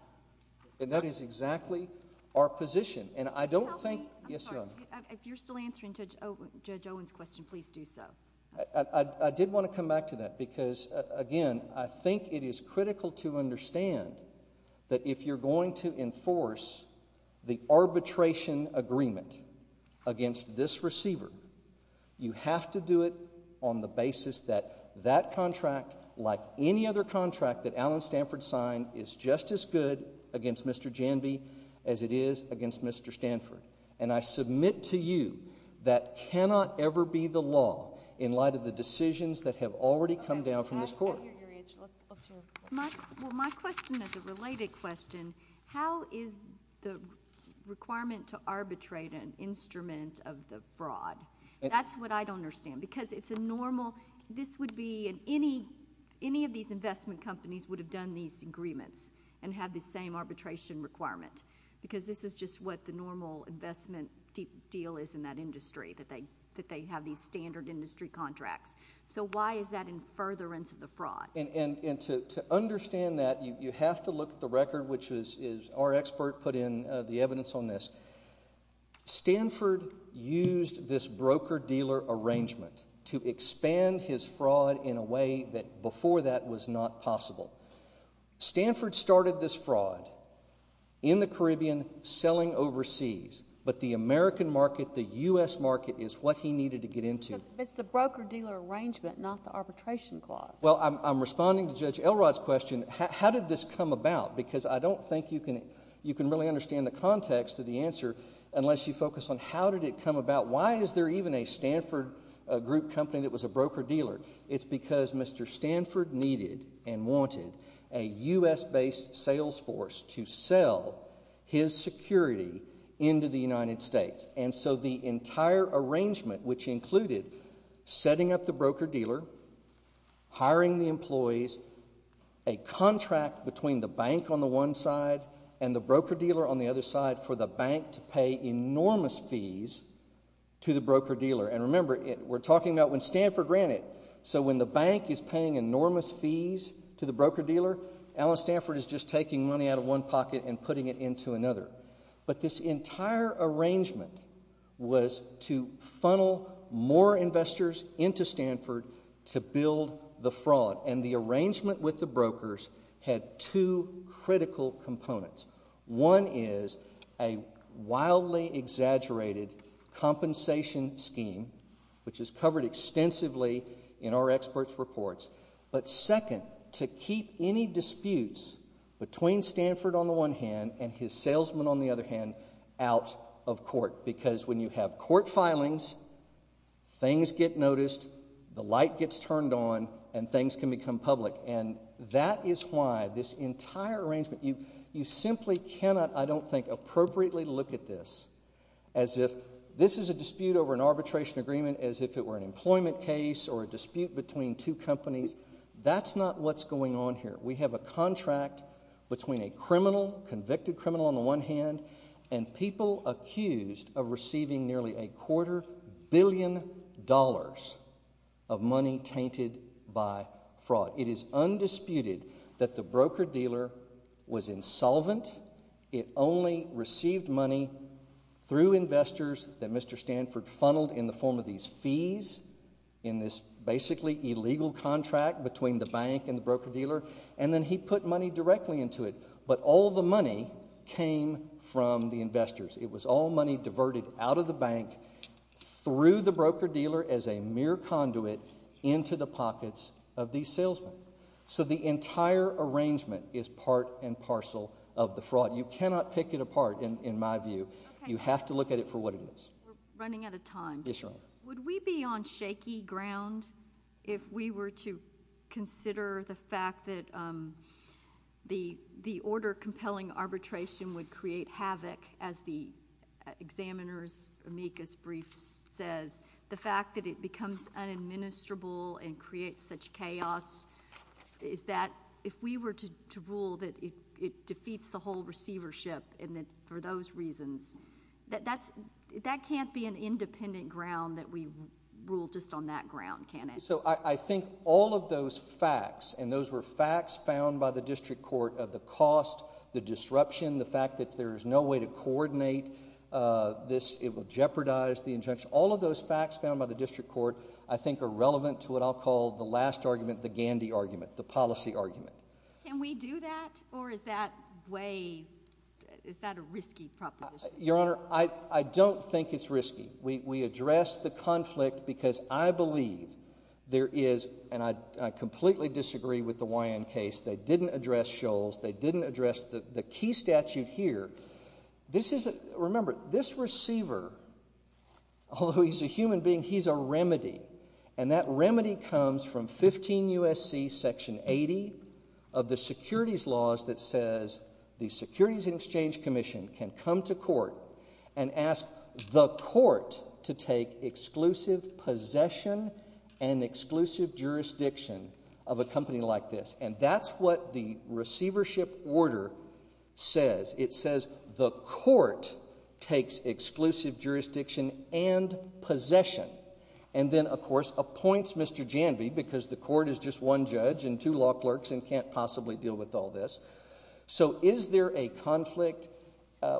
And that is exactly our position. And I don't think— Could you help me? Yes, Your Honor. If you're still answering Judge Owen's question, please do so. I did want to come back to that because, again, I think it is critical to understand that if you're going to enforce the arbitration agreement against this receiver, you have to do it on the basis that that contract, like any other contract that Alan Stanford signed, is just as good against Mr. Janvey as it is against Mr. Stanford. And I submit to you that cannot ever be the law in light of the decisions that have already come down from this Court. Well, my question is a related question. How is the requirement to arbitrate an instrument of the fraud? That's what I don't understand. Because it's a normal—this would be—any of these investment companies would have done these agreements and had the same arbitration requirement. Because this is just what the normal investment deal is in that industry, that they have these standard industry contracts. So why is that in furtherance of the fraud? And to understand that, you have to look at the record, which is—our expert put in the evidence on this. Stanford used this broker-dealer arrangement to expand his fraud in a way that before that was not possible. Stanford started this fraud in the Caribbean, selling overseas. But the American market, the U.S. market, is what he needed to get into. It's the broker-dealer arrangement, not the arbitration clause. Well, I'm responding to Judge Elrod's question. How did this come about? Because I don't think you can really understand the context of the answer unless you focus on how did it come about. Why is there even a Stanford Group company that was a broker-dealer? It's because Mr. Stanford needed and wanted a U.S.-based sales force to sell his security into the United States. And so the entire arrangement, which included setting up the broker-dealer, hiring the employees, a contract between the bank on the one side and the broker-dealer on the other side for the bank to pay enormous fees to the broker-dealer. And remember, we're talking about when Stanford ran it. So when the bank is paying enormous fees to the broker-dealer, Allen Stanford is just taking money out of one pocket and putting it into another. But this entire arrangement was to funnel more investors into Stanford to build the fraud. And the arrangement with the brokers had two critical components. One is a wildly exaggerated compensation scheme, which is covered extensively in our experts' reports. But second, to keep any disputes between Stanford on the one hand and his salesman on the other hand out of court. Because when you have court filings, things get noticed, the light gets turned on, and things can become public. And that is why this entire arrangement, you simply cannot, I don't think, appropriately look at this as if this is a dispute over an arbitration agreement, as if it were an employment case or a dispute between two companies. That's not what's going on here. We have a contract between a criminal, convicted criminal on the one hand, and people accused of receiving nearly a quarter billion dollars of money tainted by fraud. It is undisputed that the broker-dealer was insolvent. It only received money through investors that Mr. Stanford funneled in the form of these fees, in this basically illegal contract between the bank and the broker-dealer. And then he put money directly into it. But all the money came from the investors. It was all money diverted out of the bank through the broker-dealer as a mere conduit into the pockets of these salesmen. So the entire arrangement is part and parcel of the fraud. You cannot pick it apart, in my view. You have to look at it for what it is. We're running out of time. Yes, Your Honor. Would we be on shaky ground if we were to consider the fact that the order compelling arbitration would create havoc, as the examiner's amicus brief says, the fact that it becomes unadministrable and creates such chaos, is that if we were to rule that it defeats the whole receivership for those reasons, that can't be an independent ground that we rule just on that ground, can it? So I think all of those facts, and those were facts found by the district court of the cost, the disruption, the fact that there is no way to coordinate this, it will jeopardize the injunction, all of those facts found by the district court I think are relevant to what I'll call the last argument, the Gandhi argument, the policy argument. Can we do that? Or is that way, is that a risky proposition? Your Honor, I don't think it's risky. We addressed the conflict because I believe there is, and I completely disagree with the Wyand case, they didn't address Shoals, they didn't address the key statute here. This is, remember, this receiver, although he's a human being, he's a remedy, and that remedy comes from 15 U.S.C. section 80 of the securities laws that says the Securities and Exchange Commission can come to court and ask the court to take exclusive possession and exclusive jurisdiction of a company like this, and that's what the receivership order says. It says the court takes exclusive jurisdiction and possession, and then, of course, appoints Mr. Janvey because the court is just one judge and two law clerks and can't possibly deal with all this. So is there a conflict?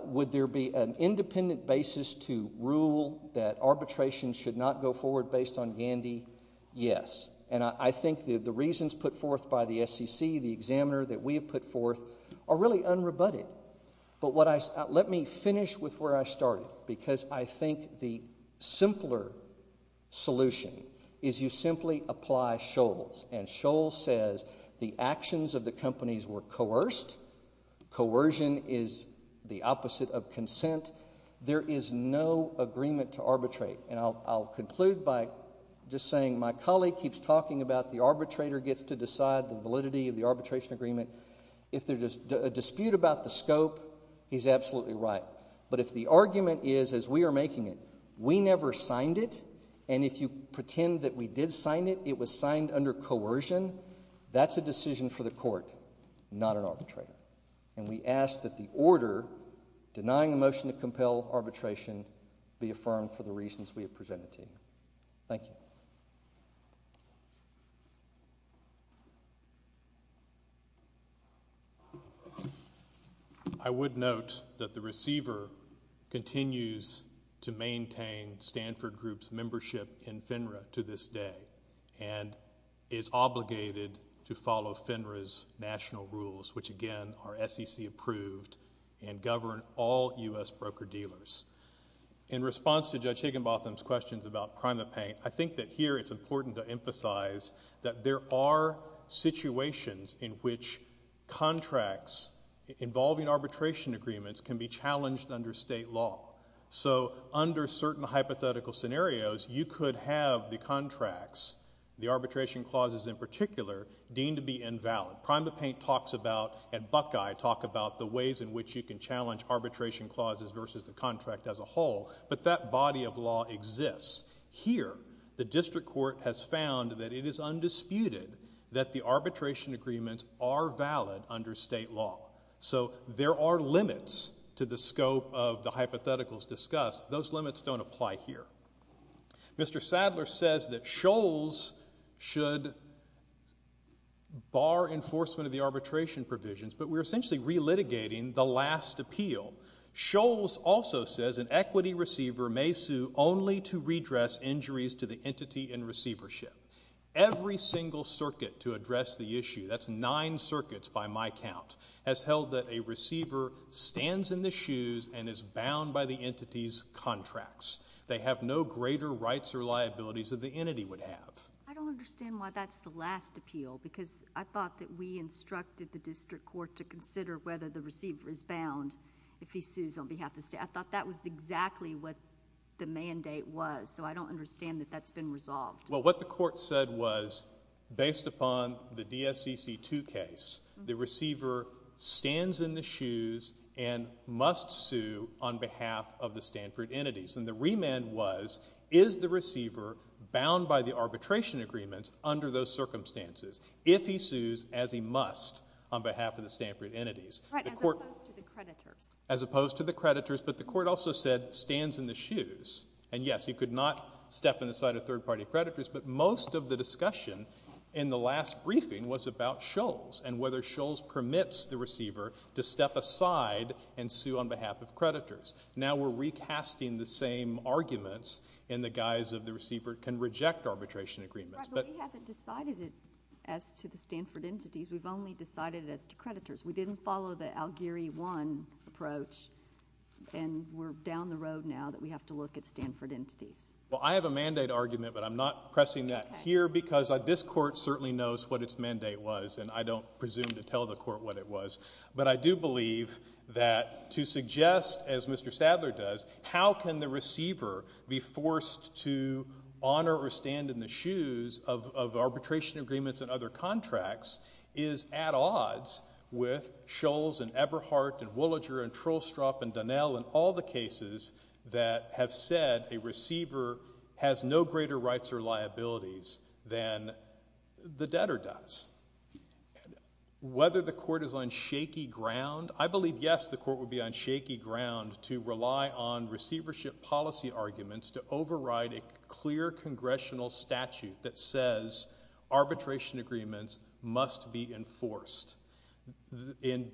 Would there be an independent basis to rule that arbitration should not go forward based on Gandhi? Yes, and I think the reasons put forth by the SEC, the examiner that we have put forth are really unrebutted, but let me finish with where I started because I think the simpler solution is you simply apply Shoals, and Shoals says the actions of the companies were coerced. Coercion is the opposite of consent. There is no agreement to arbitrate, and I'll conclude by just saying my colleague keeps talking about the arbitrator gets to decide the validity of the arbitration agreement. If there's a dispute about the scope, he's absolutely right, but if the argument is, as we are making it, we never signed it, and if you pretend that we did sign it, it was signed under coercion, that's a decision for the court, not an arbitrator, and we ask that the order denying the motion to compel arbitration be affirmed for the reasons we have presented to you. Thank you. I would note that the receiver continues to maintain Stanford Group's membership in FINRA to this day and is obligated to follow FINRA's national rules, which again are SEC approved and govern all U.S. broker-dealers. In response to Judge Higginbotham's questions about PrimaPaint, I think that here it's clear that contracts involving arbitration agreements can be challenged under state law. So under certain hypothetical scenarios, you could have the contracts, the arbitration clauses in particular, deemed to be invalid. PrimaPaint talks about, and Buckeye talks about the ways in which you can challenge arbitration clauses versus the contract as a whole, but that body of law exists. Here, the district court has found that it is undisputed that the arbitration agreements are valid under state law. So there are limits to the scope of the hypotheticals discussed. Those limits don't apply here. Mr. Sadler says that Shoals should bar enforcement of the arbitration provisions, but we're essentially relitigating the last appeal. Shoals also says an equity receiver may sue only to redress injuries to the entity in receivership. Every single circuit to address the issue, that's nine circuits by my count, has held that a receiver stands in the shoes and is bound by the entity's contracts. They have no greater rights or liabilities that the entity would have. I don't understand why that's the last appeal, because I thought that we instructed the district court to consider whether the receiver is bound if he sues on behalf of the state. I thought that was exactly what the mandate was, so I don't understand that that's been resolved. Well, what the court said was, based upon the DSCC2 case, the receiver stands in the shoes and must sue on behalf of the Stanford entities. And the remand was, is the receiver bound by the arbitration agreements under those circumstances if he sues as he must on behalf of the Stanford entities? Right, as opposed to the creditors. As opposed to the creditors, but the court also said stands in the shoes. And yes, he could not step in the side of third-party creditors, but most of the discussion in the last briefing was about Shoals and whether Shoals permits the receiver to step aside and sue on behalf of creditors. Now we're recasting the same arguments in the guise of the receiver can reject arbitration agreements, but— Right, but we haven't decided it as to the Stanford entities. We've only decided it as to creditors. We didn't follow the Algieri 1 approach, and we're down the road now that we have to look at Stanford entities. Well, I have a mandate argument, but I'm not pressing that here because this court certainly knows what its mandate was, and I don't presume to tell the court what it was. But I do believe that to suggest, as Mr. Sadler does, how can the receiver be forced to honor or stand in the shoes of, of arbitration agreements and other contracts is at odds with Shoals and Eberhardt and Woolager and Trollstrop and Donnell and all the cases that have said a receiver has no greater rights or liabilities than the debtor does. Whether the court is on shaky ground, I believe, yes, the court would be on shaky ground to rely on receivership policy arguments to override a clear congressional statute that says arbitration agreements must be enforced. In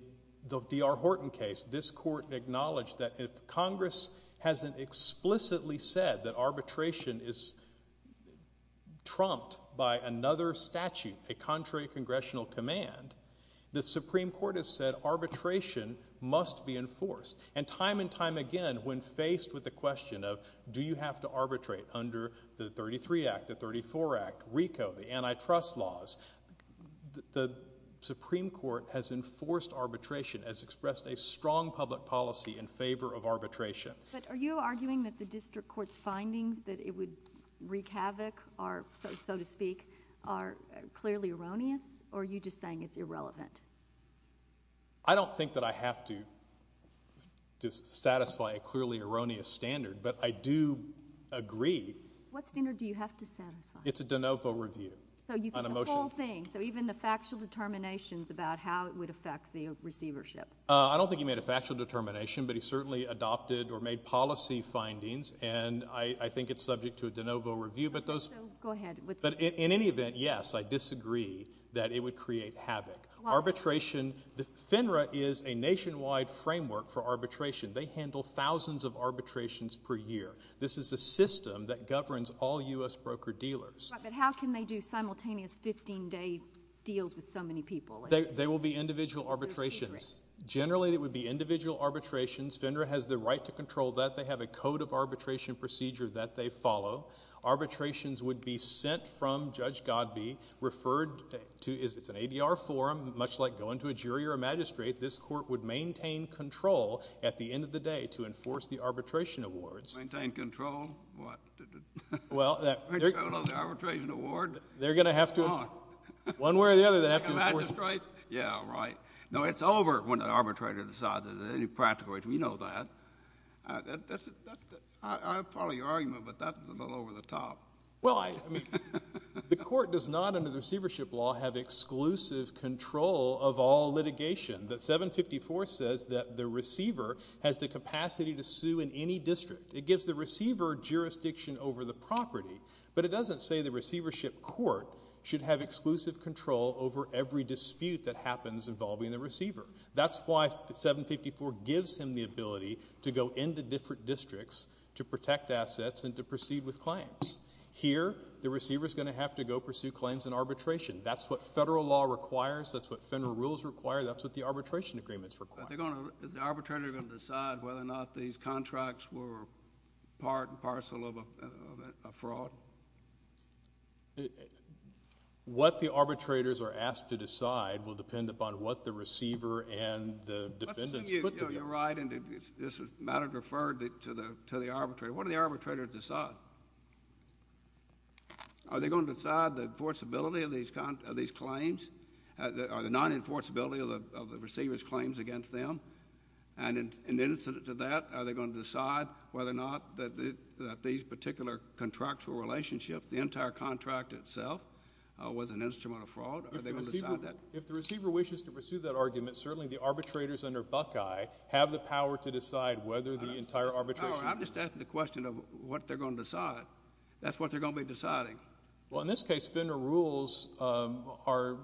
the D.R. Horton case, this court acknowledged that if Congress hasn't explicitly said that arbitration is trumped by another statute, a contrary congressional command, the Supreme Court has said arbitration must be enforced. And time and time again, when faced with the question of do you have to arbitrate under the 33 Act, the 34 Act, RICO, the antitrust laws, the Supreme Court has enforced arbitration as expressed a strong public policy in favor of arbitration. But are you arguing that the district court's findings that it would wreak havoc are, so to speak, are clearly erroneous? Or are you just saying it's irrelevant? I don't think that I have to satisfy a clearly erroneous standard, but I do agree. What standard do you have to satisfy? It's a de novo review on a motion. So you think the whole thing, so even the factual determinations about how it would affect the receivership? I don't think he made a factual determination, but he certainly adopted or made policy findings, and I think it's subject to a de novo review, but those... So go ahead. But in any event, yes, I disagree that it would create havoc. Arbitration, FINRA is a nationwide framework for arbitration. They handle thousands of arbitrations per year. This is a system that governs all U.S. broker-dealers. But how can they do simultaneous 15-day deals with so many people? They will be individual arbitrations. Generally, it would be individual arbitrations. FINRA has the right to control that. They have a code of arbitration procedure that they follow. Arbitrations would be sent from Judge Godbee, referred to as... It's an ADR forum, much like going to a jury or a magistrate. This court would maintain control at the end of the day to enforce the arbitration awards. Maintain control? What? Well, that... Control of the arbitration award? They're going to have to... Oh. One way or the other, they have to enforce... Magistrate? Yeah, right. No, it's over when the arbitrator decides that there's any practical reason. We know that. That's... I'll follow your argument, but that's a little over the top. Well, I mean, the court does not, under the receivership law, have exclusive control of all litigation. The 754 says that the receiver has the capacity to sue in any district. It gives the receiver jurisdiction over the property. But it doesn't say the receivership court should have exclusive control over every dispute that happens involving the receiver. That's why 754 gives him the ability to go into different districts to protect assets and to proceed with claims. Here, the receiver's going to have to go pursue claims in arbitration. That's what federal law requires. That's what federal rules require. That's what the arbitration agreements require. Are they going to... Is the arbitrator going to decide whether or not these contracts were part and parcel of a fraud? What the arbitrators are asked to decide will depend upon what the receiver and the defendants put together. Let's assume you're right, and this matter is referred to the arbitrator. What do the arbitrators decide? Are they going to decide the enforceability of these claims, or the non-enforceability of the receiver's claims against them? And in incident to that, are they going to decide whether or not that these particular contractual relationships, the entire contract itself, was an instrument of fraud? Are they going to decide that? If the receiver wishes to pursue that argument, certainly the arbitrators under Buckeye have the power to decide whether the entire arbitration... I'm just asking the question of what they're going to decide. That's what they're going to be deciding. Well, in this case, Fender rules are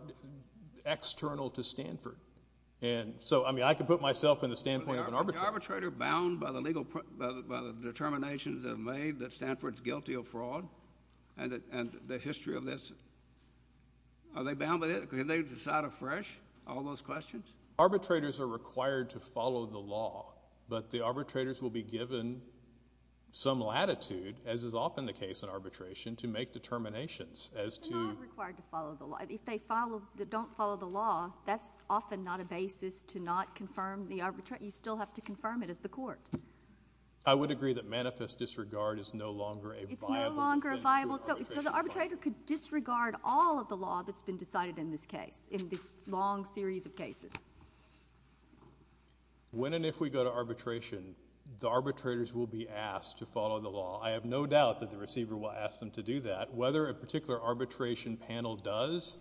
external to Stanford. And so, I mean, I can put myself in the standpoint of an arbitrator. Is the arbitrator bound by the legal, by the determinations that are made that Stanford's guilty of fraud, and the history of this? Are they bound by this? Can they decide afresh? All those questions? Arbitrators are required to follow the law, but the arbitrators will be given some latitude, as is often the case in arbitration, to make determinations as to... They're not required to follow the law. If they follow, don't follow the law, that's often not a basis to not confirm the arbitration. You still have to confirm it as the court. I would agree that manifest disregard is no longer a viable... It's no longer a viable... So the arbitrator could disregard all of the law that's been decided in this case, in this long series of cases. When and if we go to arbitration, the arbitrators will be asked to follow the law. I have no doubt that the receiver will ask them to do that. Whether a particular arbitration panel does,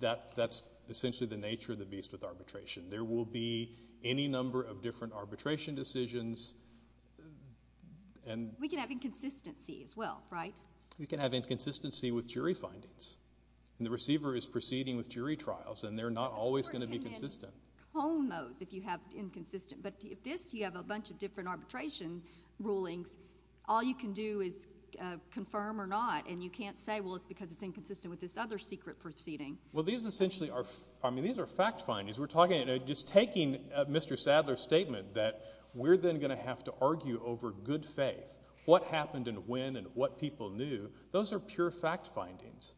that's essentially the nature of the beast with arbitration. There will be any number of different arbitration decisions and... We can have inconsistency as well, right? We can have inconsistency with jury findings. The receiver is proceeding with jury trials, and they're not always going to be consistent. Cone those if you have inconsistent, but if this, you have a bunch of different arbitration rulings, all you can do is confirm or not, and you can't say, well, it's because it's inconsistent with this other secret proceeding. Well, these essentially are... I mean, these are fact findings. Just taking Mr. Sadler's statement that we're then going to have to argue over good faith, what happened and when and what people knew, those are pure fact findings.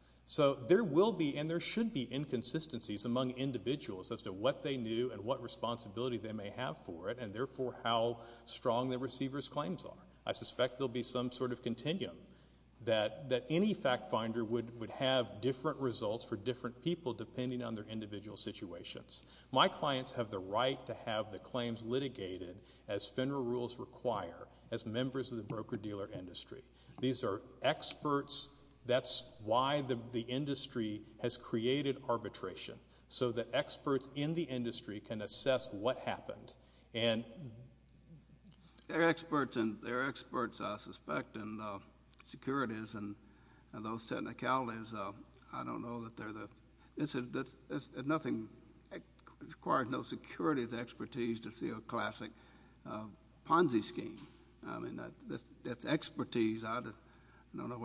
There will be and there should be inconsistencies among individuals as to what they knew and what responsibility they may have for it, and therefore how strong the receiver's claims are. I suspect there'll be some sort of continuum that any fact finder would have different results for different people depending on their individual situations. My clients have the right to have the claims litigated as federal rules require, as members of the broker-dealer industry. These are experts. That's why the industry has created arbitration, so that experts in the industry can assess what happened, and... They're experts, and they're experts, I suspect, and securities and those technicalities, I don't know that they're the... Nothing requires no securities expertise to see a classic Ponzi scheme. I mean, that's expertise. I don't know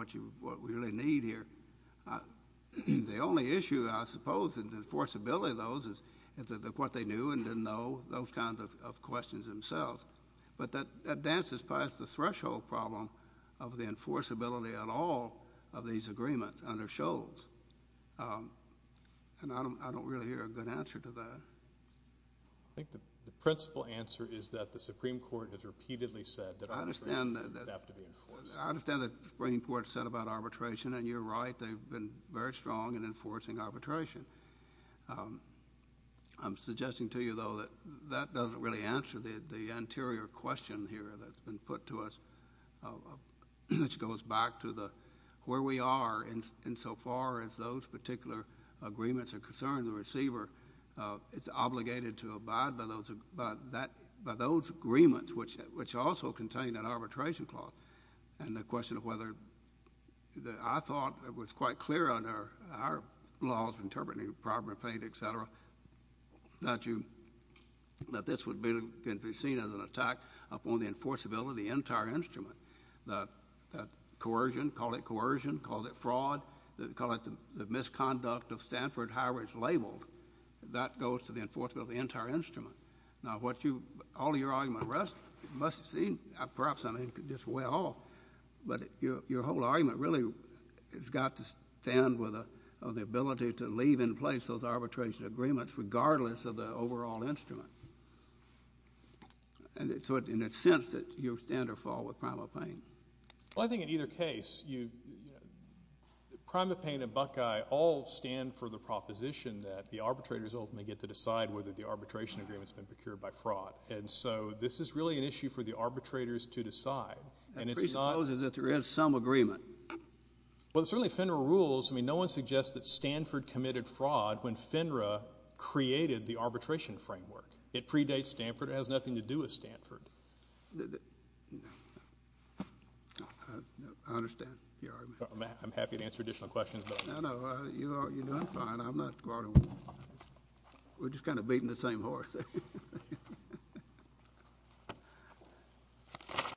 what we really need here. The only issue, I suppose, in the enforceability of those is what they knew and didn't know, those kinds of questions themselves, but that dances past the threshold problem of the rules, and I don't really hear a good answer to that. I think the principal answer is that the Supreme Court has repeatedly said that arbitration does have to be enforced. I understand that the Supreme Court said about arbitration, and you're right, they've been very strong in enforcing arbitration. I'm suggesting to you, though, that that doesn't really answer the anterior question here that's being put to us, which goes back to where we are insofar as those particular agreements are concerning the receiver. It's obligated to abide by those agreements, which also contain an arbitration clause, and the question of whether... I thought it was quite clear under our laws of interpreting property, paint, et cetera, that this can be seen as an attack upon the enforceability of the entire instrument. That coercion, call it coercion, call it fraud, call it the misconduct of Stanford Highways labeled, that goes to the enforceability of the entire instrument. Now, all of your argument rests, it must seem, perhaps I'm just way off, but your whole argument really has got to stand with the ability to leave in place those arbitration agreements regardless of the overall instrument. And it's in a sense that you stand or fall with Prima Paine. Well, I think in either case, Prima Paine and Buckeye all stand for the proposition that the arbitrators ultimately get to decide whether the arbitration agreement's been procured by fraud. And so this is really an issue for the arbitrators to decide. And it presupposes that there is some agreement. Well, certainly FINRA rules, I mean, no one suggests that Stanford committed fraud when FINRA created the arbitration framework. It predates Stanford. It has nothing to do with Stanford. I understand your argument. I'm happy to answer additional questions, but... No, no, you're doing fine. I'm not... We're just kind of beating the same horse.